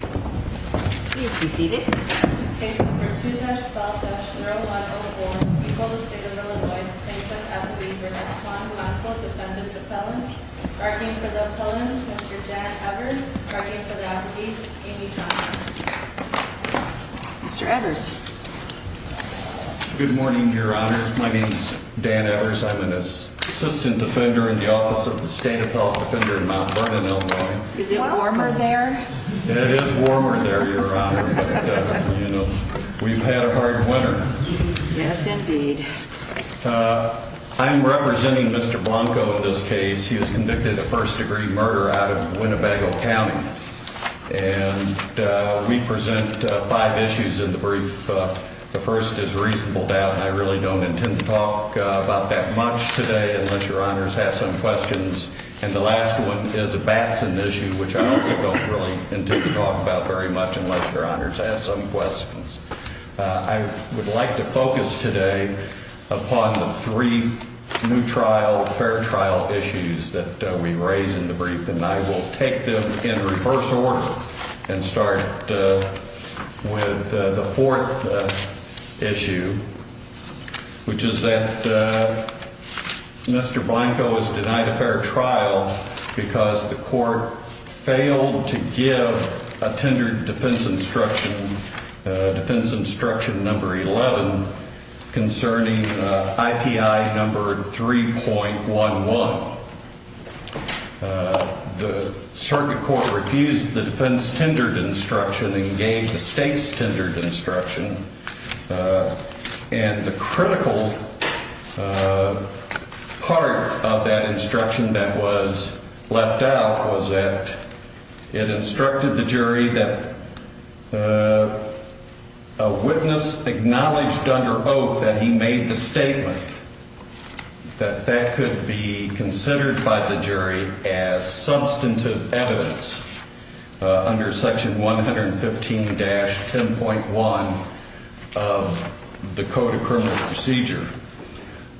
Please be seated. Take number 2-12-01 on the board. We call the State of Illinois plaintiff, Esli Bernascon, Moscow defendant, appellant. Arguing for the appellant, Mr. Dan Evers. Arguing for the appeal, Amy Thompson. Mr. Evers. Good morning, Your Honor. My name is Dan Evers. I'm an assistant defender in the office of the State Appellant Defender in Mount Vernon, Illinois. Is it warmer there? It is warmer there, Your Honor. But, you know, we've had a hard winter. Yes, indeed. I'm representing Mr. Blanco in this case. He was convicted of first-degree murder out of Winnebago County. And we present five issues in the brief. The first is reasonable doubt, and I really don't intend to talk about that much today unless Your Honors have some questions. And the last one is a Batson issue, which I also don't really intend to talk about very much unless Your Honors have some questions. I would like to focus today upon the three new trial, fair trial issues that we raise in the brief, and I will take them in reverse order and start with the fourth issue, which is that Mr. Blanco is denied a fair trial because the court failed to give a tendered defense instruction, defense instruction number 11, concerning IPI number 3.11. The circuit court refused the defense tendered instruction and gave the state's tendered instruction. And the critical part of that instruction that was left out was that it instructed the jury that a witness acknowledged under Oak that he made the statement, that that could be considered by the jury as substantive evidence under Section 115-10.1 of the Code of Criminal Procedure.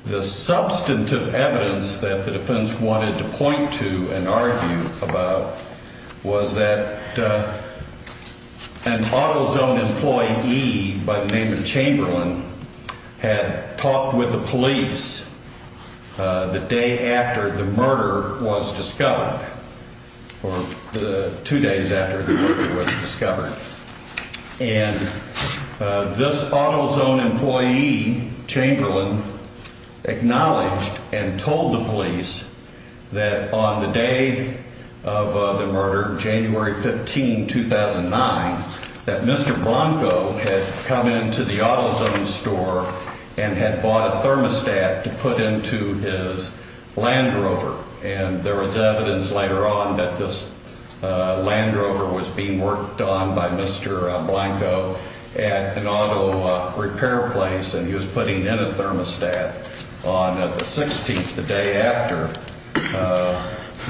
The substantive evidence that the defense wanted to point to and argue about was that an AutoZone employee by the name of Chamberlain had talked with the police the day after the murder was discovered, or two days after the murder was discovered. And this AutoZone employee, Chamberlain, acknowledged and told the police that on the day of the murder, January 15, 2009, that Mr. Blanco had come into the AutoZone store and had bought a thermostat to put into his Land Rover. And there was evidence later on that this Land Rover was being worked on by Mr. Blanco at an auto repair place, and he was putting in a thermostat on the 16th, the day after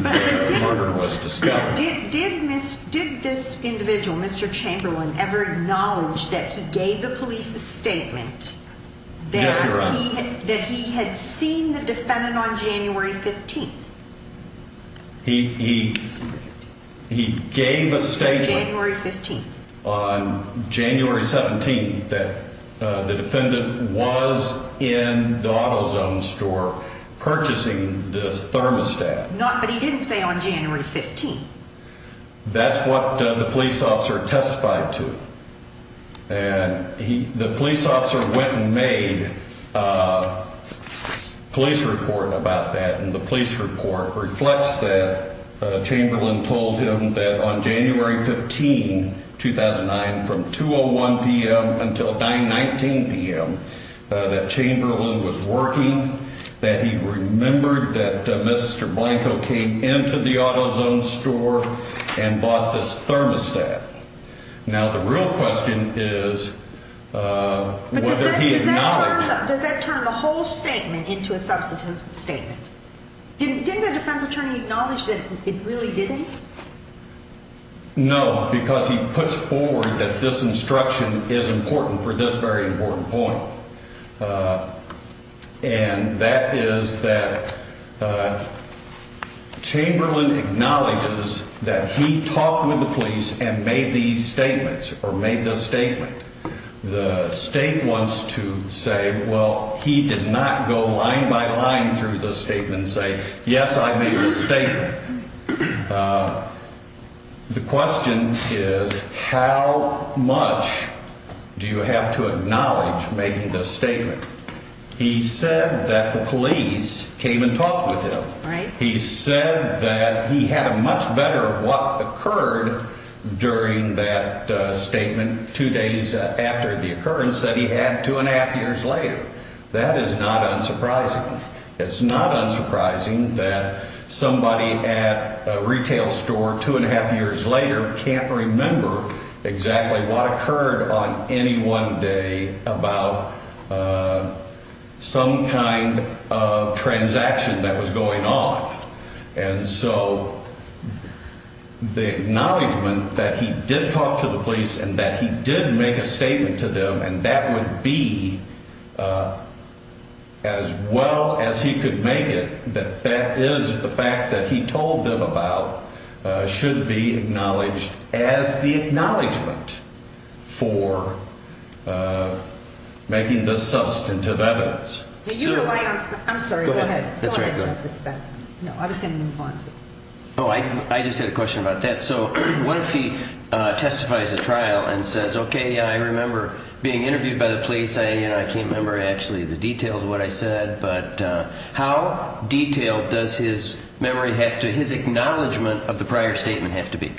the murder was discovered. Did this individual, Mr. Chamberlain, ever acknowledge that he gave the police a statement that he had seen the defendant on January 15th? He gave a statement on January 17th that the defendant was in the AutoZone store purchasing this thermostat. But he didn't say on January 15th. That's what the police officer testified to. And the police officer went and made a police report about that, and the police report reflects that Chamberlain told him that on January 15, 2009, from 2.01 p.m. until 9.19 p.m., that Chamberlain was working, that he remembered that Mr. Blanco came into the AutoZone store and bought this thermostat. Now, the real question is whether he acknowledged it. But does that turn the whole statement into a substantive statement? Didn't the defense attorney acknowledge that it really didn't? No, because he puts forward that this instruction is important for this very important point. And that is that Chamberlain acknowledges that he talked with the police and made these statements or made this statement. The state wants to say, well, he did not go line by line through the statement and say, yes, I made this statement. The question is, how much do you have to acknowledge making this statement? He said that the police came and talked with him. He said that he had a much better what occurred during that statement two days after the occurrence that he had two and a half years later. That is not unsurprising. It's not unsurprising that somebody at a retail store two and a half years later can't remember exactly what occurred on any one day about some kind of transaction that was going on. And so the acknowledgement that he did talk to the police and that he did make a statement to them and that would be as well as he could make it, that that is the facts that he told them about should be acknowledged as the acknowledgement for making the substantive evidence. I just had a question about that. So what if he testifies at trial and says, OK, I remember being interviewed by the police. I can't remember actually the details of what I said, but how detailed does his memory have to his acknowledgement of the prior statement have to be?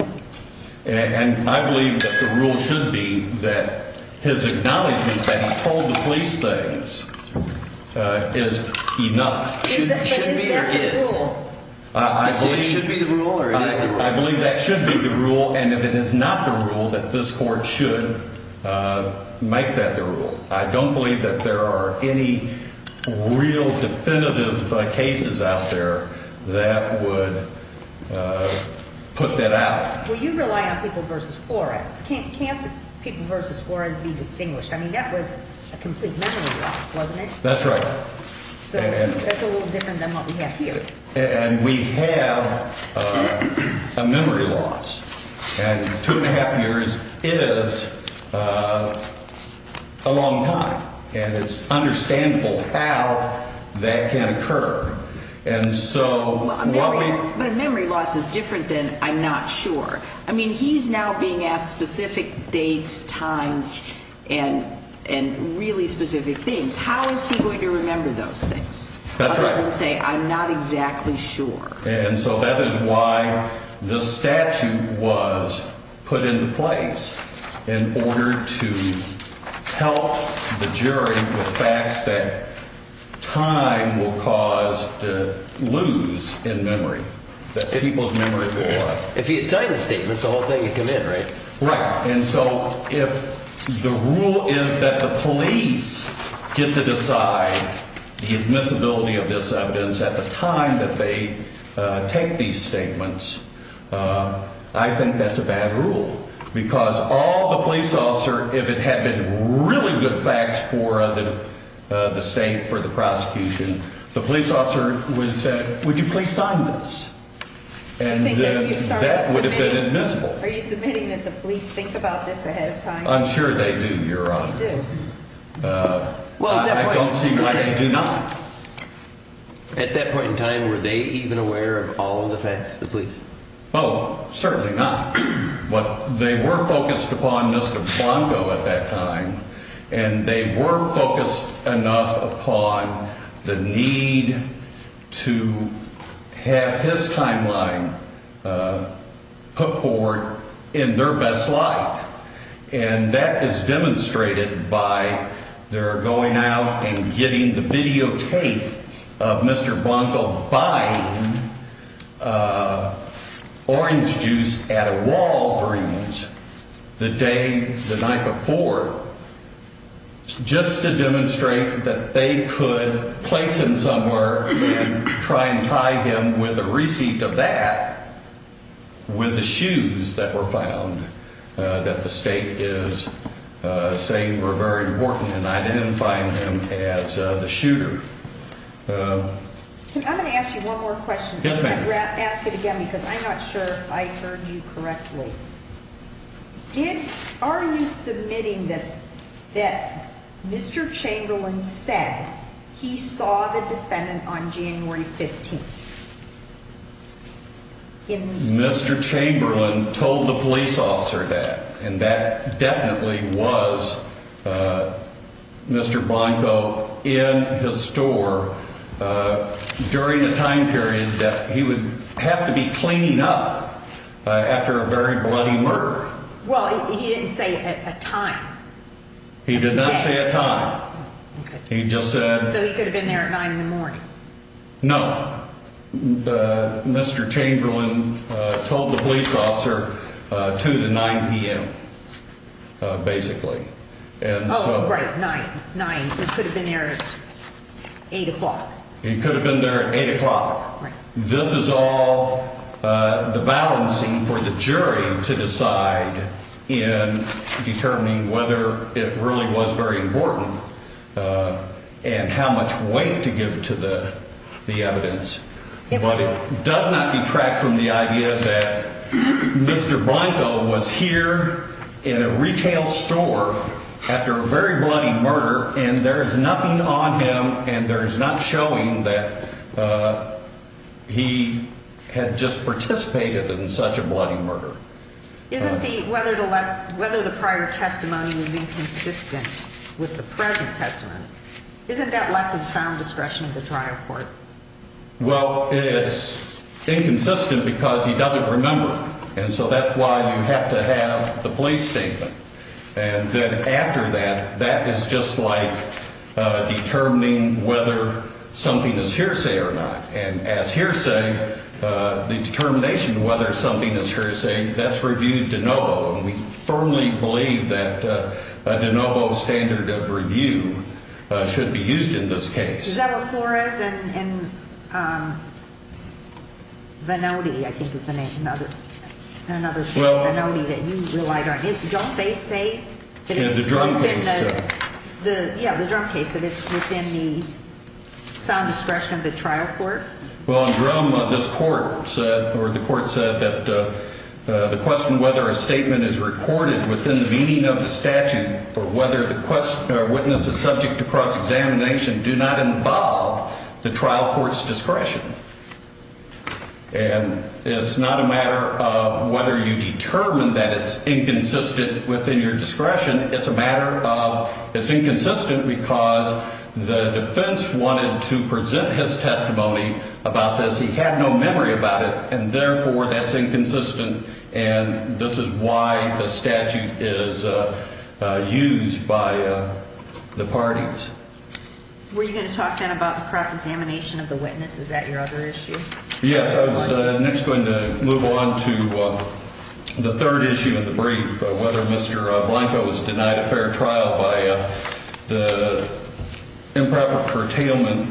And I believe that the rule should be that his acknowledgement that he told the police things is enough. Should it be? Yes, I believe that should be the rule. And if it is not the rule that this court should make that the rule, I don't believe that there are any real definitive cases out there that would put that out. Well, you rely on people versus Flores. Can't people versus Flores be distinguished? I mean, that was a complete memory loss, wasn't it? That's right. So that's a little different than what we have here. And we have a memory loss. And two and a half years is a long time. And it's understandable how that can occur. And so a memory loss is different than I'm not sure. I mean, he's now being asked specific dates, times and and really specific things. How is he going to remember those things? That's right. Say, I'm not exactly sure. And so that is why this statute was put into place in order to help the jury with facts that time will cause to lose in memory that people's memory. If he had signed the statement, the whole thing would come in. Right. And so if the rule is that the police get to decide the admissibility of this evidence at the time that they take these statements, I think that's a bad rule. Because all the police officer, if it had been really good facts for the state, for the prosecution, the police officer would have said, would you please sign this? And that would have been admissible. Are you submitting that the police think about this ahead of time? I'm sure they do, Your Honor. They do. Well, I don't see why they do not. At that point in time, were they even aware of all of the facts, the police? Oh, certainly not. But they were focused upon Mr. Blanco at that time, and they were focused enough upon the need to have his timeline put forward in their best light. And that is demonstrated by their going out and getting the videotape of Mr. Blanco buying orange juice at a Walgreens the day, the night before, just to demonstrate that they could place him somewhere and try and tie him with a receipt of that with the shoes that were found. That the state is saying were very important in identifying him as the shooter. I'm going to ask you one more question. Yes, ma'am. I'm going to ask it again because I'm not sure I heard you correctly. Are you submitting that Mr. Chamberlain said he saw the defendant on January 15th? Mr. Chamberlain told the police officer that, and that definitely was Mr. Blanco in his store during a time period that he would have to be cleaning up after a very bloody murder. Well, he didn't say a time. He did not say a time. He just said. So he could have been there at 9 in the morning. No. Mr. Chamberlain told the police officer to the 9 p.m. Basically. Right. 9 9. It could have been there. 8 o'clock. He could have been there at 8 o'clock. This is all the balancing for the jury to decide in determining whether it really was very important and how much weight to give to the evidence. But it does not detract from the idea that Mr. Blanco was here in a retail store after a very bloody murder. And there is nothing on him. And there is not showing that he had just participated in such a bloody murder. Whether the prior testimony was inconsistent with the present testimony, isn't that left to the sound discretion of the trial court? Well, it's inconsistent because he doesn't remember. And so that's why you have to have the police statement. And then after that, that is just like determining whether something is hearsay or not. And as hearsay, the determination of whether something is hearsay, that's reviewed de novo. And we firmly believe that a de novo standard of review should be used in this case. Is that what Flores and Vannoti, I think is the name, another Vannoti that you relied on. Don't they say that it's within the. Yeah, the Drum case. Yeah, the Drum case, that it's within the sound discretion of the trial court. Well, Drum, this court said or the court said that the question whether a statement is recorded within the meaning of the statute or whether the witness is subject to cross examination do not involve the trial court's discretion. And it's not a matter of whether you determine that it's inconsistent within your discretion. It's a matter of it's inconsistent because the defense wanted to present his testimony about this. He had no memory about it, and therefore that's inconsistent. And this is why the statute is used by the parties. Were you going to talk then about the cross examination of the witness? Is that your other issue? Yes. I was next going to move on to the third issue of the brief, whether Mr. Blanco was denied a fair trial by the improper curtailment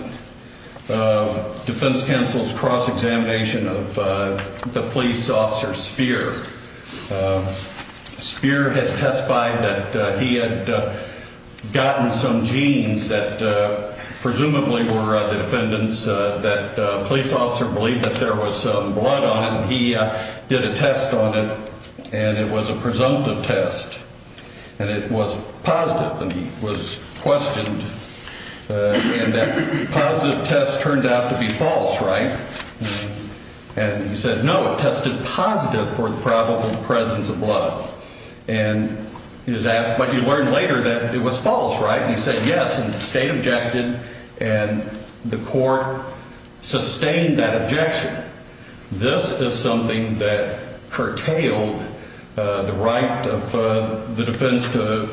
defense counsel's cross examination of the police officer Speer. Speer had testified that he had gotten some genes that presumably were the defendants that the police officer believed that there was blood on it. And he did a test on it, and it was a presumptive test. And it was positive, and he was questioned. And that positive test turned out to be false, right? And he said, no, it tested positive for the probable presence of blood. But he learned later that it was false, right? And he said yes, and the state objected, and the court sustained that objection. This is something that curtailed the right of the defense to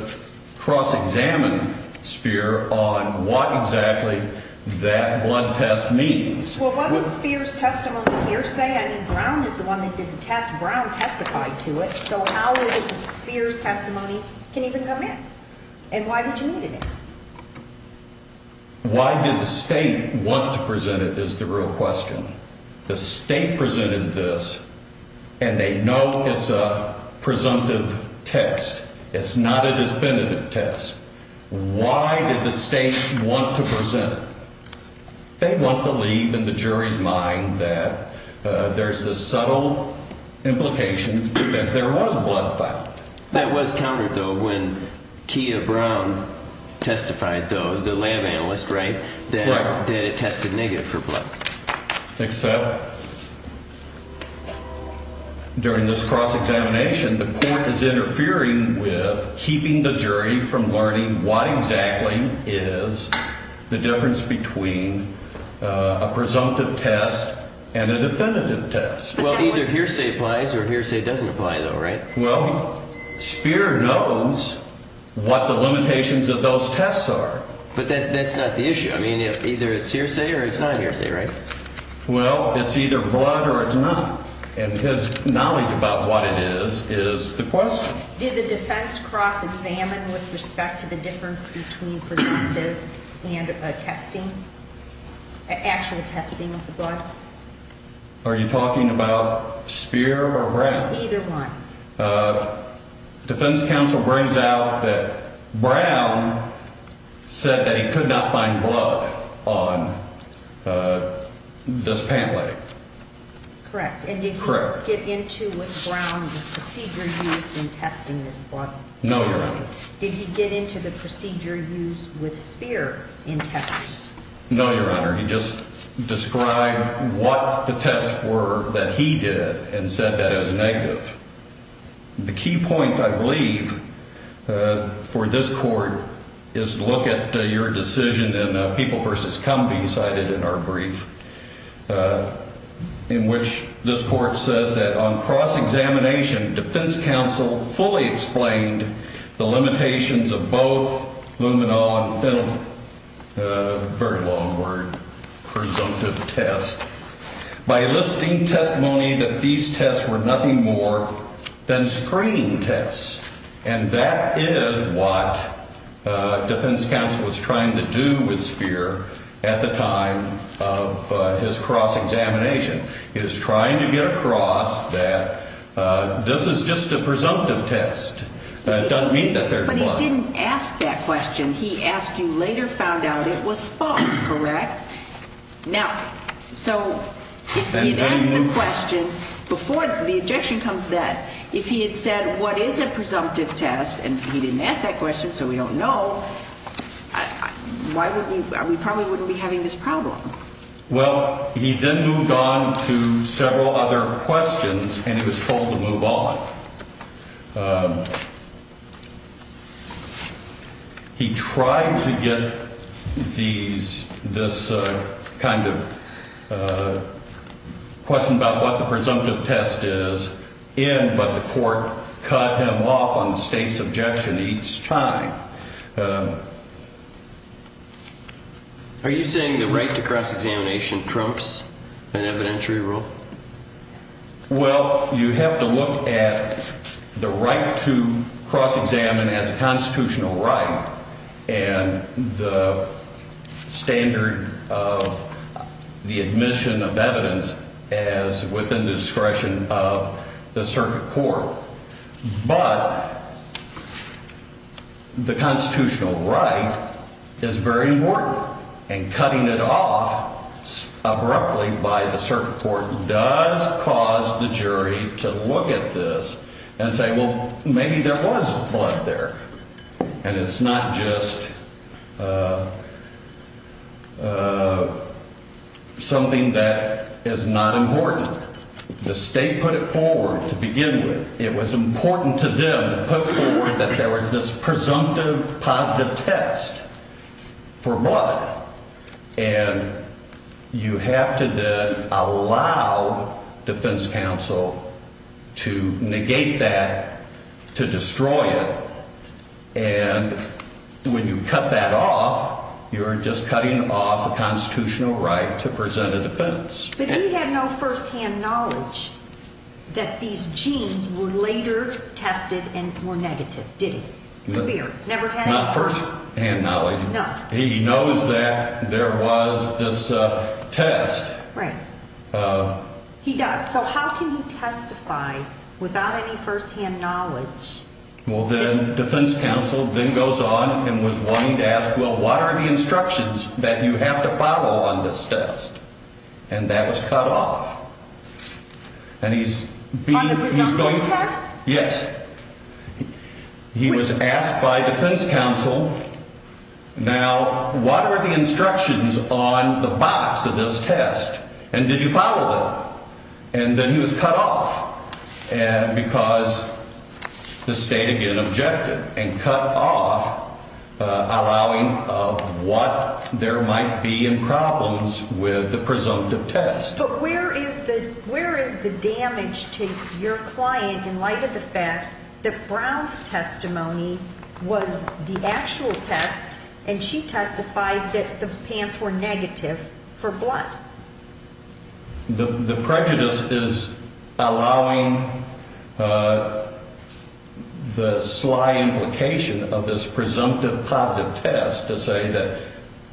cross examine Speer on what exactly that blood test means. Well, wasn't Speer's testimony hearsay? I mean, Brown is the one that did the test. Brown testified to it. So how is it that Speer's testimony can even come in? And why would you need it? Why did the state want to present it is the real question. The state presented this, and they know it's a presumptive test. It's not a definitive test. Why did the state want to present it? They want to leave in the jury's mind that there's this subtle implication that there was blood found. That was countered, though, when Kia Brown testified, though, the lab analyst, right, that it tested negative for blood. Except during this cross examination, the court is interfering with keeping the jury from learning what exactly is the difference between a presumptive test and a definitive test. Well, either hearsay applies or hearsay doesn't apply, though, right? Well, Speer knows what the limitations of those tests are. But that's not the issue. I mean, either it's hearsay or it's not hearsay, right? Well, it's either blood or it's not. And his knowledge about what it is is the question. Did the defense cross-examine with respect to the difference between presumptive and testing, actual testing of the blood? Are you talking about Speer or Brown? Either one. Defense counsel brings out that Brown said that he could not find blood on this pant leg. Correct. And did he get into with Brown the procedure used in testing this blood? No, Your Honor. Did he get into the procedure used with Speer in testing? No, Your Honor. He just described what the tests were that he did and said that it was negative. The key point, I believe, for this court is to look at your decision in the people versus company cited in our brief in which this court says that on cross-examination, and that is what defense counsel was trying to do with Speer at the time of his cross-examination. He was trying to get across that this is just a presumptive test. It doesn't mean that there's blood. But he didn't ask that question. He asked you later found out it was false, correct? Now, so he had asked the question before the objection comes to that. If he had said what is a presumptive test and he didn't ask that question so we don't know, why would we – we probably wouldn't be having this problem. Well, he then moved on to several other questions and he was told to move on. He tried to get these – this kind of question about what the presumptive test is in, but the court cut him off on the state's objection each time. Are you saying the right to cross-examination trumps an evidentiary rule? Well, you have to look at the right to cross-examine as a constitutional right and the standard of the admission of evidence as within the discretion of the circuit court. But the constitutional right is very important and cutting it off abruptly by the circuit court does cause the jury to look at this and say, well, maybe there was blood there. And it's not just something that is not important. The state put it forward to begin with. It was important to them to put forward that there was this presumptive positive test for blood. And you have to then allow defense counsel to negate that, to destroy it. And when you cut that off, you're just cutting off a constitutional right to present a defense. But he had no first-hand knowledge that these genes were later tested and were negative, did he? No. Never had it? Not first-hand knowledge. No. He knows that there was this test. Right. He does. So how can he testify without any first-hand knowledge? Well, then defense counsel then goes on and was wanting to ask, well, what are the instructions that you have to follow on this test? And that was cut off. On the presumptive test? Yes. He was asked by defense counsel, now, what are the instructions on the box of this test? And did you follow them? And then he was cut off because the state, again, objected and cut off allowing what there might be in problems with the presumptive test. But where is the damage to your client in light of the fact that Brown's testimony was the actual test and she testified that the pants were negative for blood? The prejudice is allowing the sly implication of this presumptive positive test to say that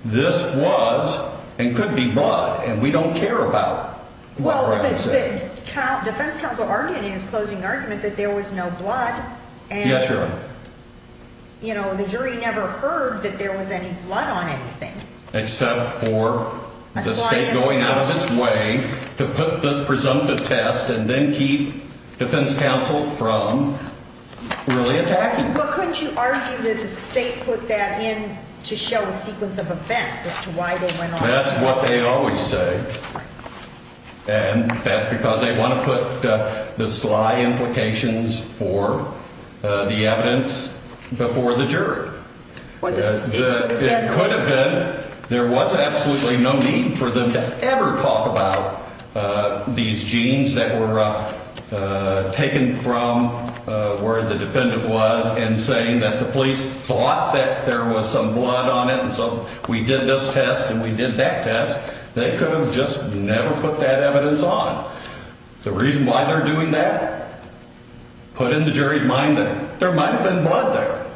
this was and could be blood and we don't care about what Brown said. Well, defense counsel argued in his closing argument that there was no blood. Yes, Your Honor. And, you know, the jury never heard that there was any blood on anything. Except for the state going out of its way to put this presumptive test and then keep defense counsel from really attacking. Well, couldn't you argue that the state put that in to show a sequence of events as to why they went on? That's what they always say. And that's because they want to put the sly implications for the evidence before the jury. It could have been. There was absolutely no need for them to ever talk about these genes that were taken from where the defendant was and saying that the police thought that there was some blood on it. And so we did this test and we did that test. They could have just never put that evidence on. The reason why they're doing that put in the jury's mind that there might have been blood there.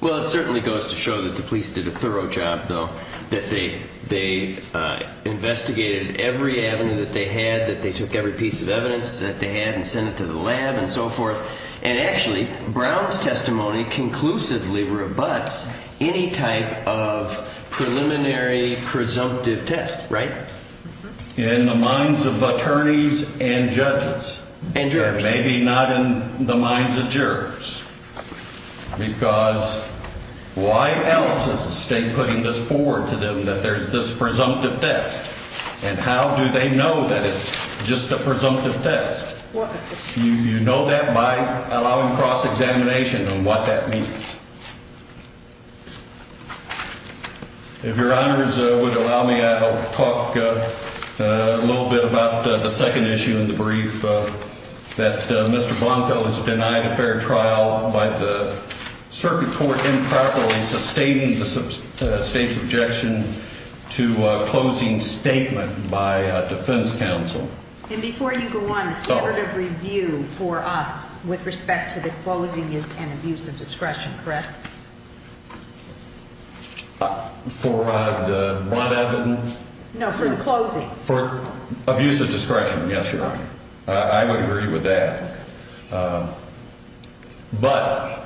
Well, it certainly goes to show that the police did a thorough job, though, that they investigated every avenue that they had, that they took every piece of evidence that they had and sent it to the lab and so forth. And actually, Brown's testimony conclusively rebuts any type of preliminary presumptive test, right? In the minds of attorneys and judges. And jurors. Because why else is the state putting this forward to them that there's this presumptive test? And how do they know that it's just a presumptive test? You know that by allowing cross examination and what that means. If your honors would allow me, I'll talk a little bit about the second issue in the brief that Mr. Bonfell is denied a fair trial by the circuit court improperly sustaining the state's objection to a closing statement by defense counsel. And before you go on, the standard of review for us with respect to the closing is an abuse of discretion, correct? For the broad evidence? No, for the closing. For abuse of discretion. Yes, Your Honor. I would agree with that. But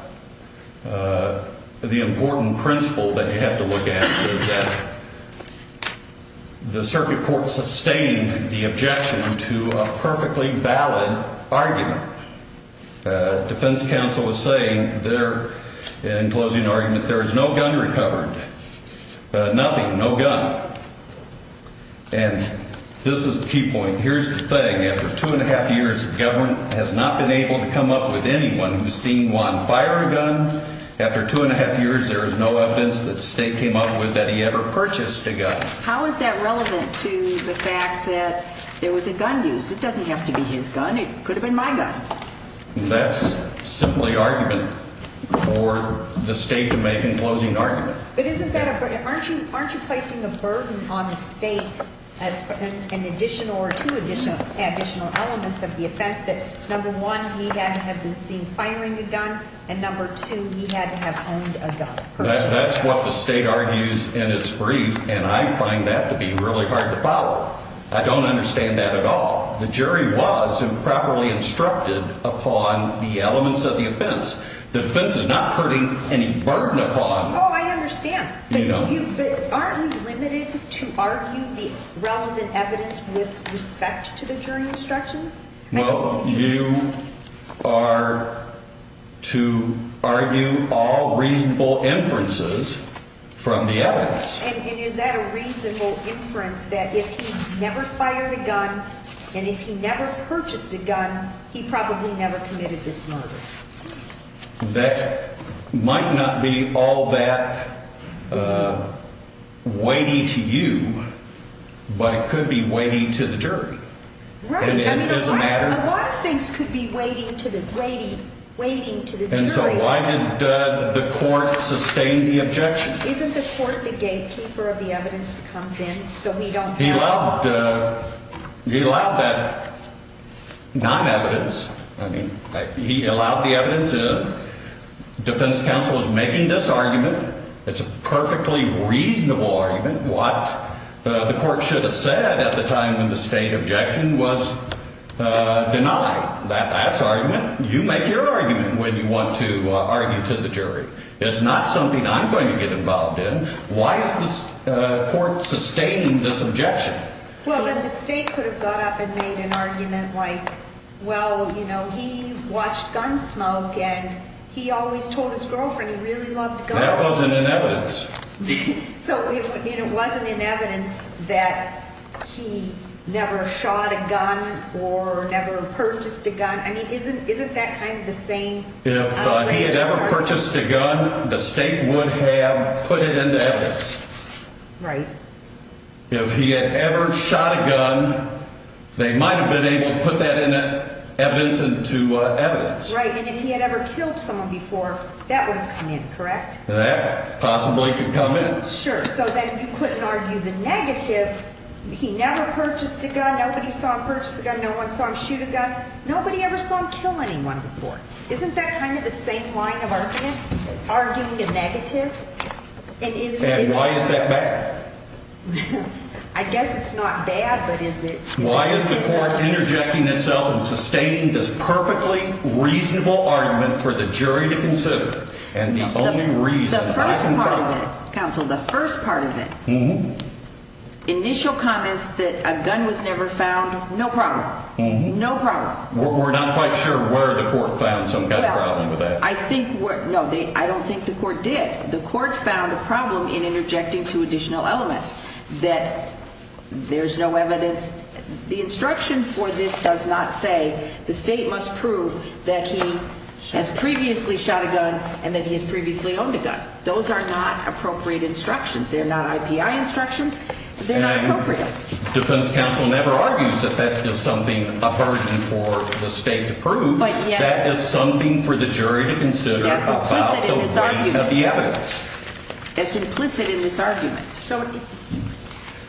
the important principle that you have to look at is that the circuit court sustained the objection to a perfectly valid argument. Defense counsel was saying there in closing argument, there is no gun recovered. Nothing. No gun. And this is the key point. Here's the thing. After two and a half years, the government has not been able to come up with anyone who's seen Juan fire a gun. After two and a half years, there is no evidence that the state came up with that he ever purchased a gun. How is that relevant to the fact that there was a gun used? It doesn't have to be his gun. It could have been my gun. That's simply argument for the state to make in closing argument. But isn't that a burden? Aren't you placing a burden on the state as an additional or two additional elements of the offense, that number one, he had to have been seen firing a gun, and number two, he had to have owned a gun? That's what the state argues in its brief, and I find that to be really hard to follow. I don't understand that at all. The jury was improperly instructed upon the elements of the offense. The offense is not putting any burden upon the state. Oh, I understand. But aren't we limited to argue the relevant evidence with respect to the jury instructions? Well, you are to argue all reasonable inferences from the evidence. And is that a reasonable inference that if he never fired a gun and if he never purchased a gun, he probably never committed this murder? That might not be all that weighty to you, but it could be weighty to the jury. Right. And it doesn't matter. I mean, a lot of things could be weighty to the jury. And so why didn't the court sustain the objection? Isn't the court the gatekeeper of the evidence that comes in so we don't have to follow? He allowed that non-evidence. I mean, he allowed the evidence in. Defense counsel is making this argument. It's a perfectly reasonable argument. What the court should have said at the time when the state objection was denied. That's argument. You make your argument when you want to argue to the jury. It's not something I'm going to get involved in. Why is the court sustaining this objection? Well, then the state could have got up and made an argument like, well, you know, he watched gun smoke and he always told his girlfriend he really loved guns. That wasn't in evidence. So it wasn't in evidence that he never shot a gun or never purchased a gun. I mean, isn't that kind of the same? If he had ever purchased a gun, the state would have put it into evidence. Right. If he had ever shot a gun, they might have been able to put that in evidence into evidence. Right. And if he had ever killed someone before, that would have come in, correct? That possibly could come in. Sure. So then you couldn't argue the negative. He never purchased a gun. Nobody saw him purchase a gun. No one saw him shoot a gun. Nobody ever saw him kill anyone before. Isn't that kind of the same line of argument? Arguing a negative? And why is that bad? I guess it's not bad, but is it? Why is the court interjecting itself and sustaining this perfectly reasonable argument for the jury to consider? And the only reason I can think of. The first part of it, counsel, the first part of it, initial comments that a gun was never found, no problem. No problem. We're not quite sure where the court found some gun problems with that. No, I don't think the court did. The court found a problem in interjecting two additional elements, that there's no evidence. The instruction for this does not say the state must prove that he has previously shot a gun and that he has previously owned a gun. Those are not appropriate instructions. They're not IPI instructions. They're not appropriate. Defense counsel never argues that that is something a burden for the state to prove. That is something for the jury to consider about the weight of the evidence. That's implicit in this argument. So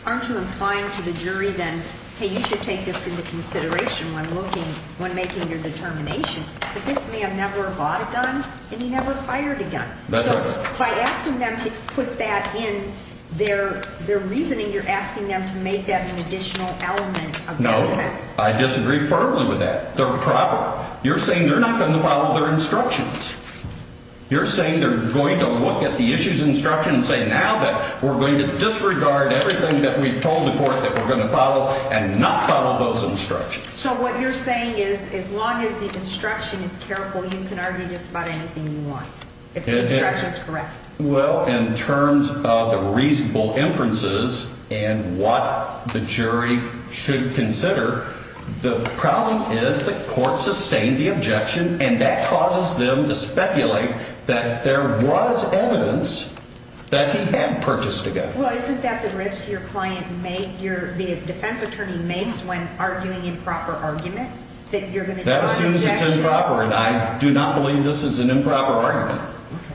aren't you implying to the jury then, hey, you should take this into consideration when looking, when making your determination that this man never bought a gun and he never fired a gun? That's right. By asking them to put that in their reasoning, you're asking them to make that an additional element of their defense. No, I disagree firmly with that. They're improper. You're saying they're not going to follow their instructions. You're saying they're going to look at the issues instruction and say now that we're going to disregard everything that we've told the court that we're going to follow and not follow those instructions. So what you're saying is as long as the instruction is careful, you can argue just about anything you want. If the instruction is correct. Well, in terms of the reasonable inferences and what the jury should consider, the problem is the court sustained the objection and that causes them to speculate that there was evidence that he had purchased a gun. Well, isn't that the risk your client made your defense attorney makes when arguing improper argument that you're going to. That assumes it's improper. And I do not believe this is an improper argument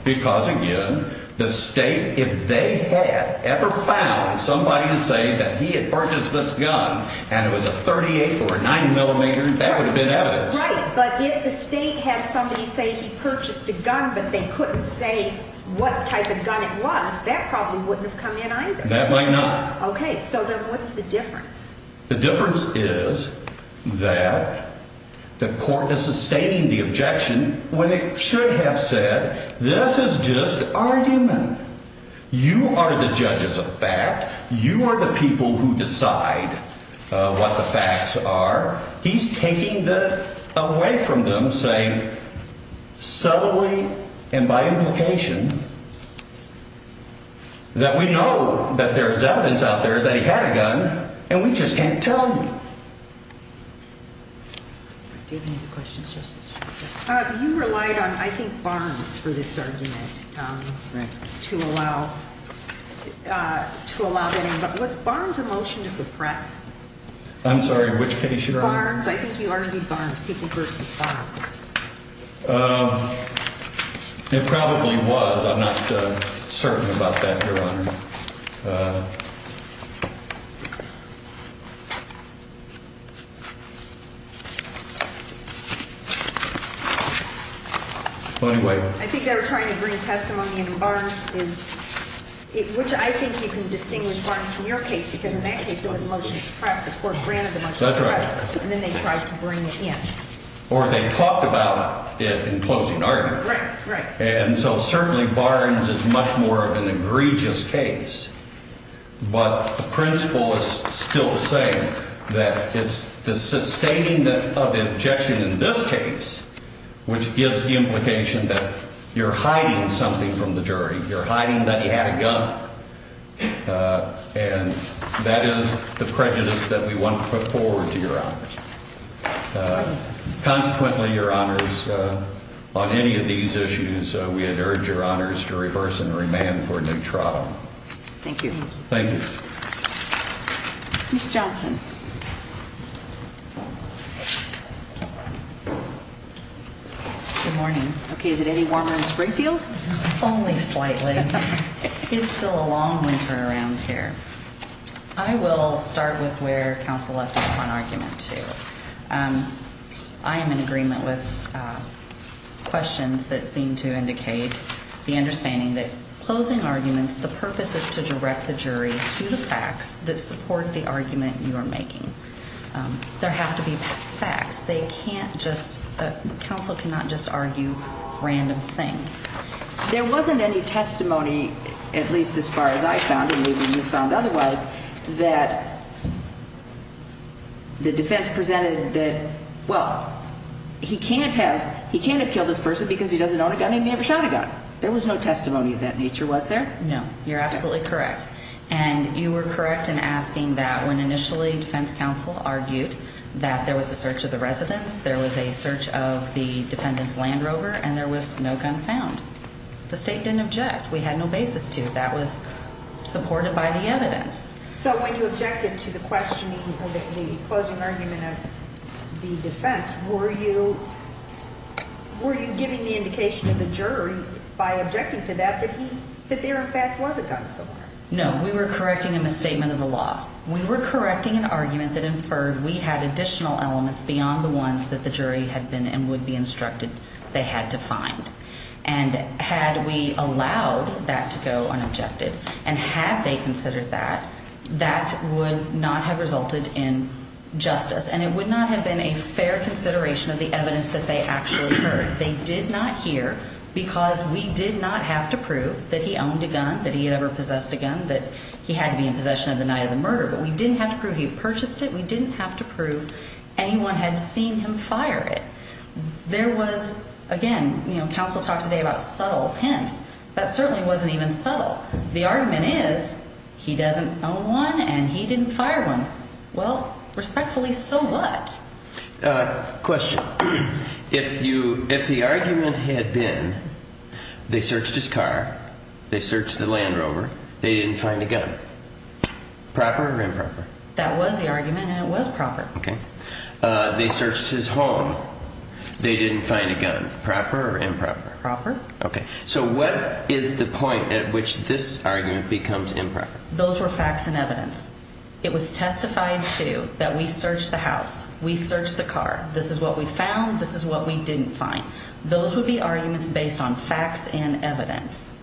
because, again, the state, if they had ever found somebody to say that he had purchased this gun and it was a 38 or nine millimeter, that would have been evidence. Right. But if the state has somebody say he purchased a gun, but they couldn't say what type of gun it was, that probably wouldn't have come in either. That might not. OK, so then what's the difference? The difference is that the court is sustaining the objection when it should have said this is just argument. You are the judges of fact. You are the people who decide what the facts are. He's taking that away from them, saying subtly and by implication that we know that there is evidence out there that he had a gun and we just can't tell you. You relied on, I think, Barnes for this argument to allow to allow that was Barnes emotion to suppress. I'm sorry, which case? It probably was. I'm not certain about that. Your Honor. Well, anyway, I think they were trying to bring testimony in bars, which I think you can distinguish from your case, because in that case it was a motion to press the court granted. That's right. And then they tried to bring it in. Or they talked about it in closing argument. Right, right. And so certainly Barnes is much more of an egregious case. But the principle is still the same, that it's the sustaining of the objection in this case, which gives the implication that you're hiding something from the jury. You're hiding that he had a gun. And that is the prejudice that we want to put forward to your honor. Consequently, your honors, on any of these issues, we had urged your honors to reverse and remand for a new trial. Thank you. Thank you. Johnson. Good morning. Okay. Is it any warmer in Springfield? Only slightly. It's still a long winter around here. I will start with where counsel left off on argument two. I am in agreement with questions that seem to indicate the understanding that closing arguments, the purpose is to direct the jury to the facts that support the argument you are making. There have to be facts. They can't just counsel cannot just argue random things. There wasn't any testimony, at least as far as I found and maybe you found otherwise, that the defense presented that, well, he can't have killed this person because he doesn't own a gun and he never shot a gun. There was no testimony of that nature, was there? No. You're absolutely correct. And you were correct in asking that when initially defense counsel argued that there was a search of the residence, there was a search of the defendant's Land Rover, and there was no gun found. The state didn't object. We had no basis to. That was supported by the evidence. So when you objected to the questioning of the closing argument of the defense, were you were you giving the indication of the jury by objecting to that, that there in fact was a gun somewhere? No, we were correcting a misstatement of the law. We were correcting an argument that inferred we had additional elements beyond the ones that the jury had been and would be instructed they had to find. And had we allowed that to go unobjected and had they considered that, that would not have resulted in justice. And it would not have been a fair consideration of the evidence that they actually heard. They did not hear because we did not have to prove that he owned a gun, that he had ever possessed a gun, that he had to be in possession of the night of the murder. But we didn't have to prove he purchased it. We didn't have to prove anyone had seen him fire it. There was, again, you know, counsel talks today about subtle hints. That certainly wasn't even subtle. The argument is he doesn't own one and he didn't fire one. Well, respectfully, so what? Question. If you if the argument had been they searched his car, they searched the Land Rover, they didn't find a gun. Proper or improper? That was the argument and it was proper. They searched his home. They didn't find a gun. Proper or improper? Proper. OK, so what is the point at which this argument becomes improper? Those were facts and evidence. It was testified to that we searched the house. We searched the car. This is what we found. This is what we didn't find. Those would be arguments based on facts and evidence.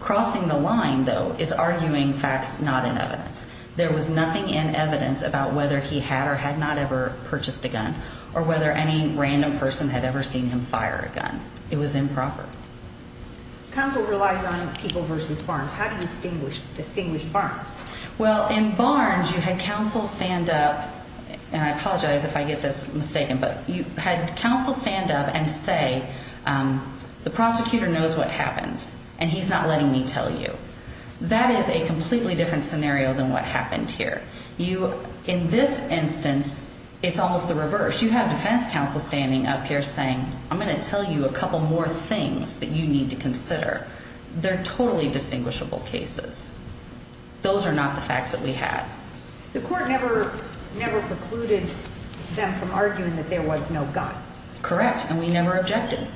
Crossing the line, though, is arguing facts, not in evidence. There was nothing in evidence about whether he had or had not ever purchased a gun or whether any random person had ever seen him fire a gun. It was improper. Counsel relies on people versus Barnes. How do you distinguish distinguish Barnes? Well, in Barnes, you had counsel stand up and I apologize if I get this mistaken, but you had counsel stand up and say the prosecutor knows what happens and he's not letting me tell you. That is a completely different scenario than what happened here. You in this instance, it's almost the reverse. You have defense counsel standing up here saying I'm going to tell you a couple more things that you need to consider. They're totally distinguishable cases. Those are not the facts that we had. The court never never precluded them from arguing that there was no gun. Correct. And we never objected.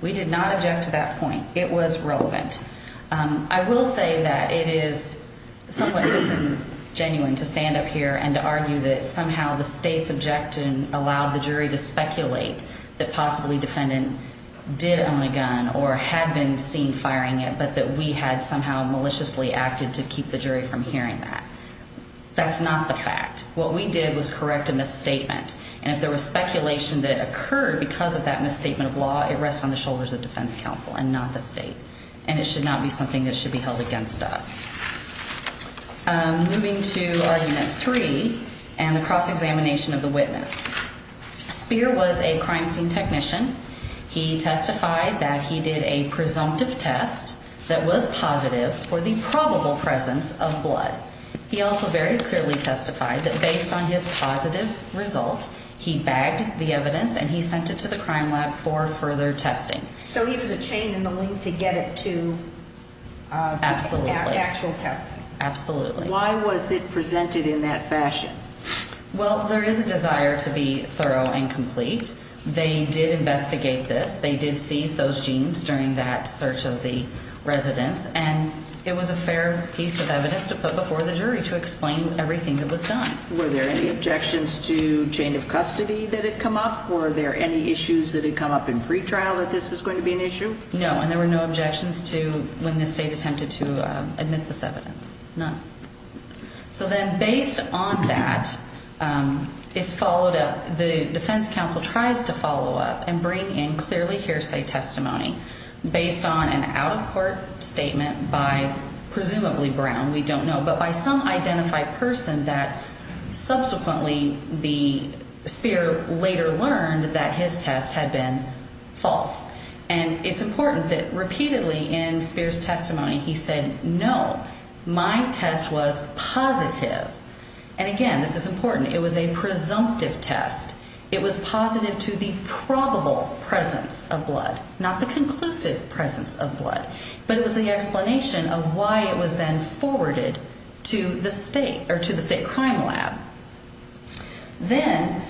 We did not object to that point. It was relevant. I will say that it is somewhat disingenuine to stand up here and argue that somehow the state's objection allowed the jury to speculate that possibly defendant did own a gun or had been seen firing it, but that we had somehow maliciously acted to keep the jury from hearing that. That's not the fact. What we did was correct a misstatement. And if there was speculation that occurred because of that misstatement of law, it rests on the shoulders of defense counsel and not the state. And it should not be something that should be held against us. Moving to argument three and the cross-examination of the witness. Speer was a crime scene technician. He testified that he did a presumptive test that was positive for the probable presence of blood. He also very clearly testified that based on his positive result, he bagged the evidence and he sent it to the crime lab for further testing. So he was a chain in the link to get it to. Absolutely. Actual testing. Absolutely. Why was it presented in that fashion? Well, there is a desire to be thorough and complete. They did investigate this. They did seize those genes during that search of the residents. And it was a fair piece of evidence to put before the jury to explain everything that was done. Were there any objections to chain of custody that had come up? Were there any issues that had come up in pretrial that this was going to be an issue? No. And there were no objections to when the state attempted to admit this evidence. None. So then based on that, it's followed up. The defense counsel tries to follow up and bring in clearly hearsay testimony based on an out-of-court statement by presumably Brown. We don't know. But by some identified person that subsequently the Speer later learned that his test had been false. And it's important that repeatedly in Speer's testimony he said, no, my test was positive. And, again, this is important. It was a presumptive test. It was positive to the probable presence of blood, not the conclusive presence of blood. But it was the explanation of why it was then forwarded to the state or to the state crime lab. Then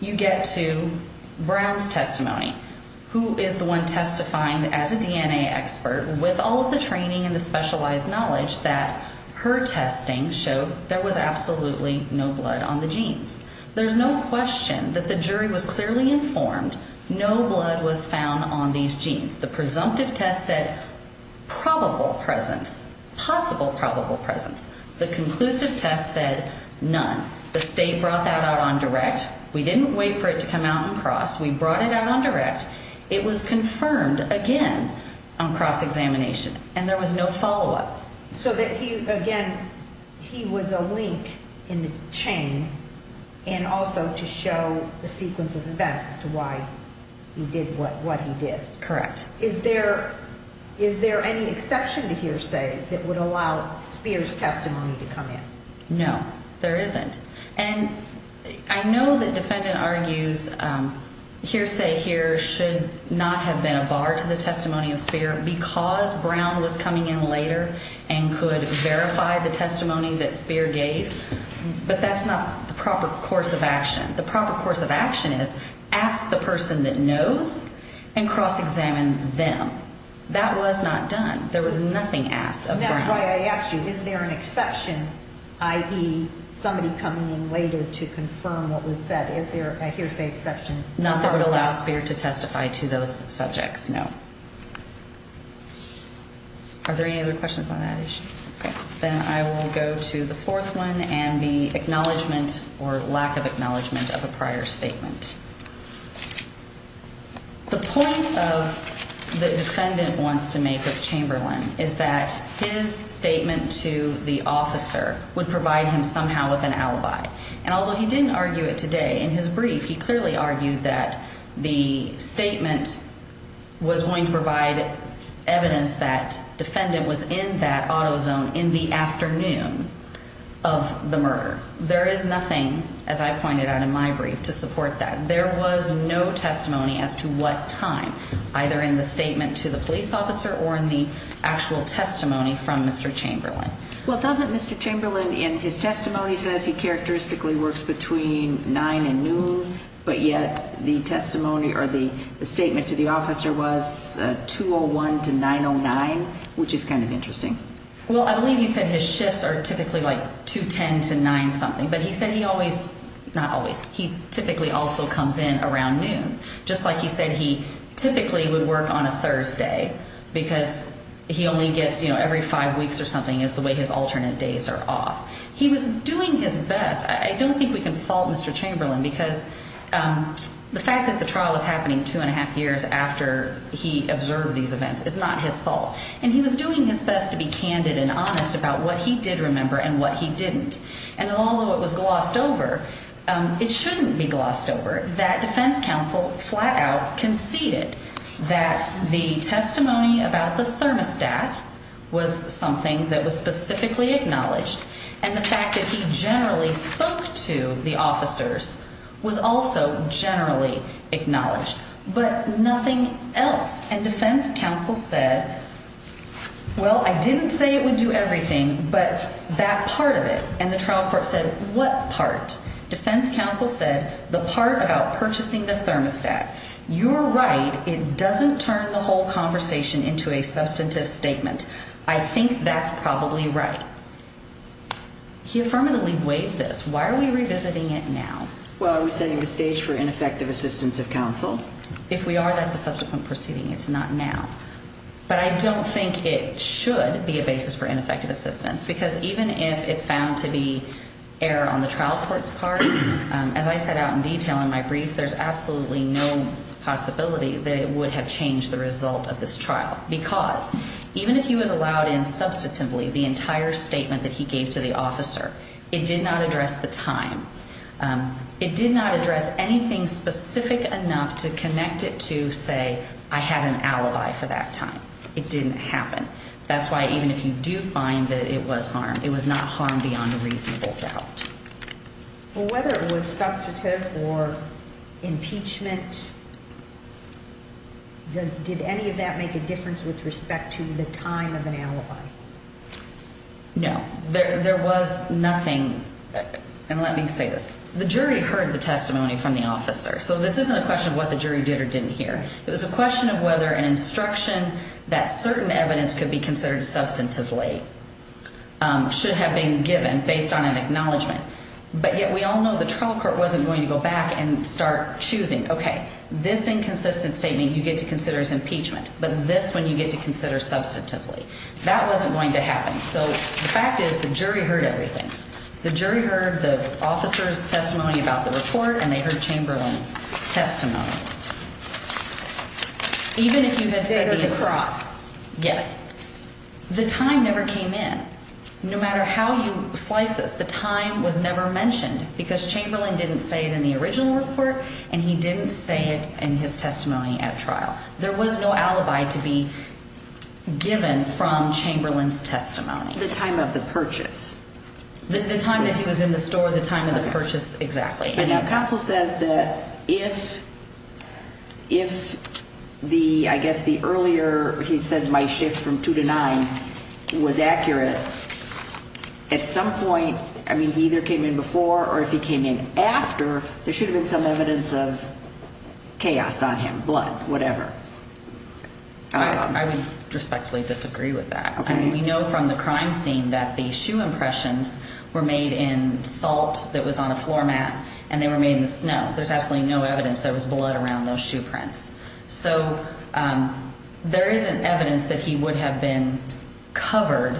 you get to Brown's testimony, who is the one testifying as a DNA expert with all of the training and the specialized knowledge that her testing showed there was absolutely no blood on the genes. There's no question that the jury was clearly informed no blood was found on these genes. The presumptive test said probable presence, possible probable presence. The conclusive test said none. The state brought that out on direct. We didn't wait for it to come out on cross. We brought it out on direct. It was confirmed again on cross-examination. And there was no follow-up. So that he, again, he was a link in the chain and also to show the sequence of events as to why he did what he did. Correct. Is there any exception to hearsay that would allow Speer's testimony to come in? No, there isn't. And I know the defendant argues hearsay here should not have been a bar to the testimony of Speer because Brown was coming in later and could verify the testimony that Speer gave. But that's not the proper course of action. The proper course of action is ask the person that knows and cross-examine them. That was not done. There was nothing asked of Brown. And that's why I asked you, is there an exception, i.e., somebody coming in later to confirm what was said? Is there a hearsay exception? Not that would allow Speer to testify to those subjects, no. Are there any other questions on that issue? Okay. Then I will go to the fourth one and the acknowledgment or lack of acknowledgment of a prior statement. The point of the defendant wants to make of Chamberlain is that his statement to the officer would provide him somehow with an alibi. And although he didn't argue it today in his brief, he clearly argued that the statement was going to provide evidence that defendant was in that auto zone in the afternoon of the murder. There is nothing, as I pointed out in my brief, to support that. There was no testimony as to what time, either in the statement to the police officer or in the actual testimony from Mr. Chamberlain. Well, doesn't Mr. Chamberlain in his testimony says he characteristically works between 9 and noon, but yet the testimony or the statement to the officer was 2-01 to 9-09, which is kind of interesting? Well, I believe he said his shifts are typically like 2-10 to 9-something. But he said he always – not always. He typically also comes in around noon. Just like he said he typically would work on a Thursday because he only gets, you know, every five weeks or something is the way his alternate days are off. He was doing his best. I don't think we can fault Mr. Chamberlain because the fact that the trial was happening two and a half years after he observed these events is not his fault. And he was doing his best to be candid and honest about what he did remember and what he didn't. And although it was glossed over, it shouldn't be glossed over. That defense counsel flat out conceded that the testimony about the thermostat was something that was specifically acknowledged. And the fact that he generally spoke to the officers was also generally acknowledged, but nothing else. And defense counsel said, well, I didn't say it would do everything, but that part of it. And the trial court said what part? Defense counsel said the part about purchasing the thermostat. You're right. It doesn't turn the whole conversation into a substantive statement. I think that's probably right. He affirmatively waived this. Why are we revisiting it now? Well, are we setting the stage for ineffective assistance of counsel? If we are, that's a subsequent proceeding. It's not now. But I don't think it should be a basis for ineffective assistance because even if it's found to be error on the trial court's part, as I set out in detail in my brief, there's absolutely no possibility that it would have changed the result of this trial. Because even if you had allowed in substantively the entire statement that he gave to the officer, it did not address the time. It did not address anything specific enough to connect it to, say, I had an alibi for that time. It didn't happen. That's why even if you do find that it was harm, it was not harm beyond a reasonable doubt. Well, whether it was substantive or impeachment, did any of that make a difference with respect to the time of an alibi? No. There was nothing. And let me say this. The jury heard the testimony from the officer. So this isn't a question of what the jury did or didn't hear. It was a question of whether an instruction that certain evidence could be considered substantively should have been given based on an acknowledgement. But yet we all know the trial court wasn't going to go back and start choosing, okay, this inconsistent statement you get to consider as impeachment, but this one you get to consider substantively. That wasn't going to happen. So the fact is the jury heard everything. The jury heard the officer's testimony about the report, and they heard Chamberlain's testimony. Even if you had said the— The date of the cross. Yes. The time never came in. No matter how you slice this, the time was never mentioned because Chamberlain didn't say it in the original report, and he didn't say it in his testimony at trial. There was no alibi to be given from Chamberlain's testimony. The time of the purchase. The time that he was in the store, the time of the purchase, exactly. But now counsel says that if the—I guess the earlier he said my shift from 2 to 9 was accurate, at some point, I mean, he either came in before or if he came in after, there should have been some evidence of chaos on him, blood, whatever. I would respectfully disagree with that. Okay. I mean, we know from the crime scene that the shoe impressions were made in salt that was on a floor mat, and they were made in the snow. There's absolutely no evidence there was blood around those shoe prints. So there isn't evidence that he would have been covered.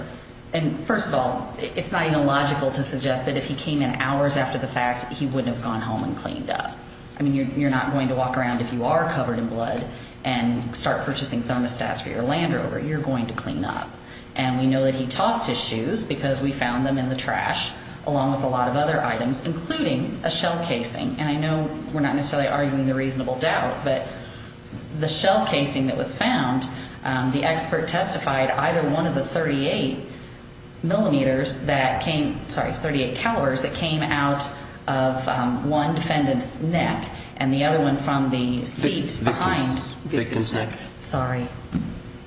And first of all, it's not even logical to suggest that if he came in hours after the fact, he wouldn't have gone home and cleaned up. I mean, you're not going to walk around if you are covered in blood and start purchasing thermostats for your Land Rover. You're going to clean up. And we know that he tossed his shoes because we found them in the trash, along with a lot of other items, including a shell casing. And I know we're not necessarily arguing the reasonable doubt, but the shell casing that was found, the expert testified either one of the 38 millimeters that came, sorry, 38 calibers that came out of one defendant's neck and the other one from the seat behind the victim's neck. Sorry.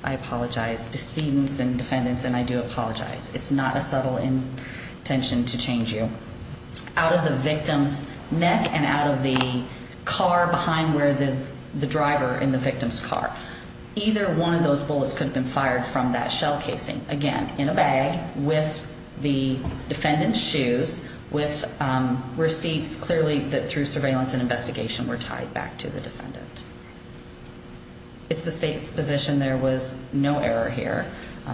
I apologize. Decedents and defendants, and I do apologize. It's not a subtle intention to change you. Out of the victim's neck and out of the car behind where the driver in the victim's car. Either one of those bullets could have been fired from that shell casing. Again, in a bag with the defendant's shoes, with receipts clearly that through surveillance and investigation were tied back to the defendant. It's the state's position there was no error here.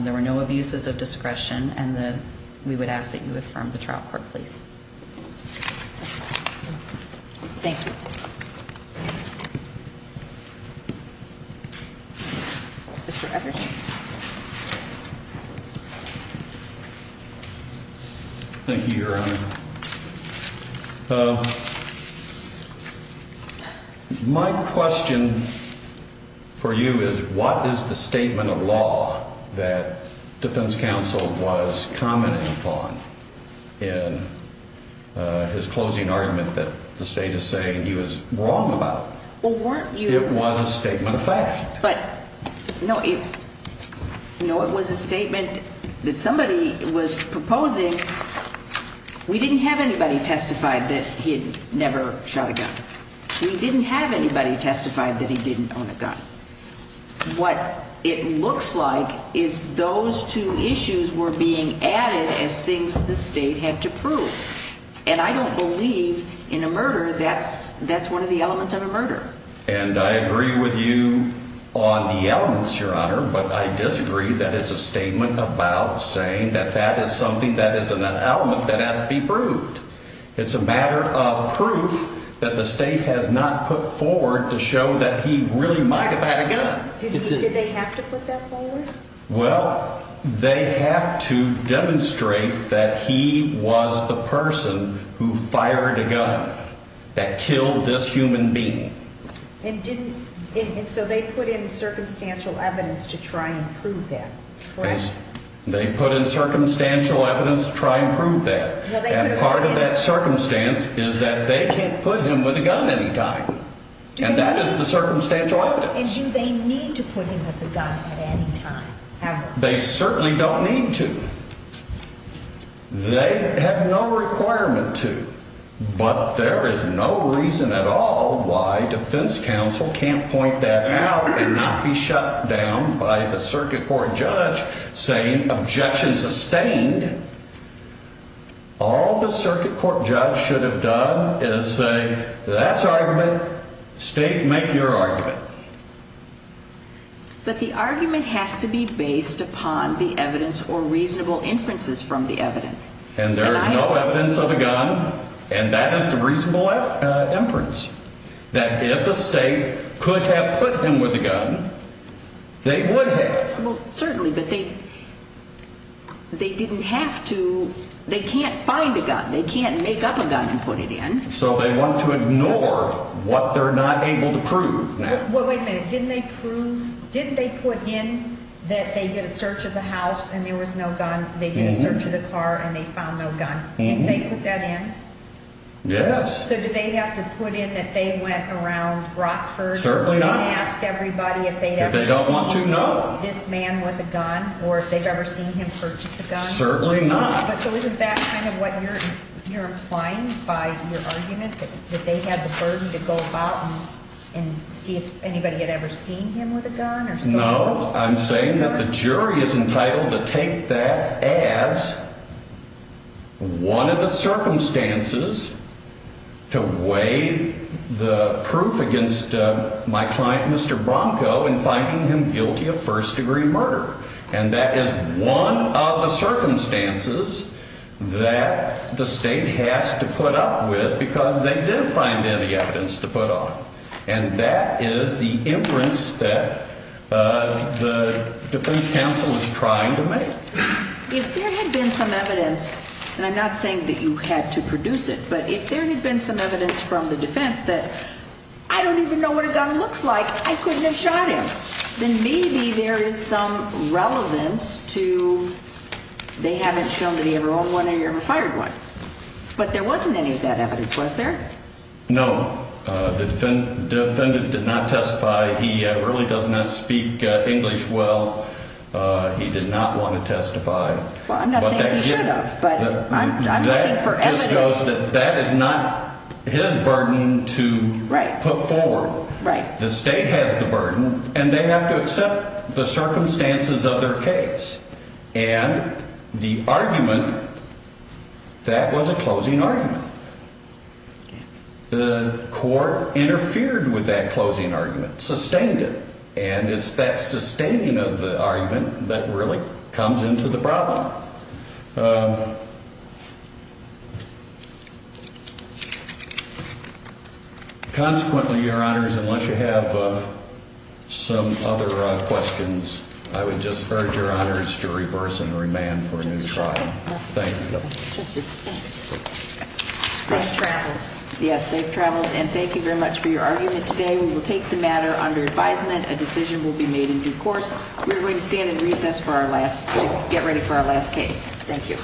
There were no abuses of discretion. And then we would ask that you would from the trial court, please. Thank you. Thank you. Your Honor. My question for you is what is the statement of law that defense counsel was commenting upon in his closing argument that the state is saying he was wrong about? Well, weren't you? It was a statement of fact. But, you know, it was a statement that somebody was proposing. We didn't have anybody testified that he had never shot a gun. We didn't have anybody testified that he didn't own a gun. What it looks like is those two issues were being added as things the state had to prove. And I don't believe in a murder that's one of the elements of a murder. And I agree with you on the elements, Your Honor. But I disagree that it's a statement about saying that that is something that is an element that has to be proved. It's a matter of proof that the state has not put forward to show that he really might have had a gun. Did they have to put that forward? Well, they have to demonstrate that he was the person who fired a gun that killed this human being. And so they put in circumstantial evidence to try and prove that, correct? They put in circumstantial evidence to try and prove that. And part of that circumstance is that they can't put him with a gun any time. And that is the circumstantial evidence. So do they need to put him with a gun at any time ever? They certainly don't need to. They have no requirement to. But there is no reason at all why defense counsel can't point that out and not be shut down by the circuit court judge saying objection sustained. All the circuit court judge should have done is say that's argument. State, make your argument. But the argument has to be based upon the evidence or reasonable inferences from the evidence. And there is no evidence of a gun, and that is the reasonable inference, that if the state could have put him with a gun, they would have. Well, certainly, but they didn't have to. They can't find a gun. They can't make up a gun and put it in. So they want to ignore what they're not able to prove now. Well, wait a minute. Didn't they put in that they did a search of the house and there was no gun? They did a search of the car and they found no gun. Didn't they put that in? Yes. So do they have to put in that they went around Rockford? Certainly not. If they don't want to, no. This man with a gun, or if they've ever seen him purchase a gun? Certainly not. So isn't that kind of what you're implying by your argument, that they had the burden to go about and see if anybody had ever seen him with a gun? No. I'm saying that the jury is entitled to take that as one of the circumstances to weigh the proof against my client, Mr. Bronco, in finding him guilty of first-degree murder. And that is one of the circumstances that the state has to put up with because they didn't find any evidence to put on it. And that is the inference that the defense counsel is trying to make. If there had been some evidence, and I'm not saying that you had to produce it, but if there had been some evidence from the defense that, I don't even know what a gun looks like, I couldn't have shot him, then maybe there is some relevance to they haven't shown that he ever owned one or he ever fired one. But there wasn't any of that evidence, was there? No. The defendant did not testify. He really does not speak English well. He did not want to testify. Well, I'm not saying he should have, but I'm looking for evidence. That is not his burden to put forward. Right. The state has the burden, and they have to accept the circumstances of their case. And the argument, that was a closing argument. The court interfered with that closing argument, sustained it. And it's that sustaining of the argument that really comes into the problem. Consequently, Your Honors, unless you have some other questions, I would just urge Your Honors to reverse and remand for a new trial. Thank you. Justice Smith. Safe travels. Yes, safe travels. And thank you very much for your argument today. We will take the matter under advisement. A decision will be made in due course. We are going to stand in recess to get ready for our last case. Thank you.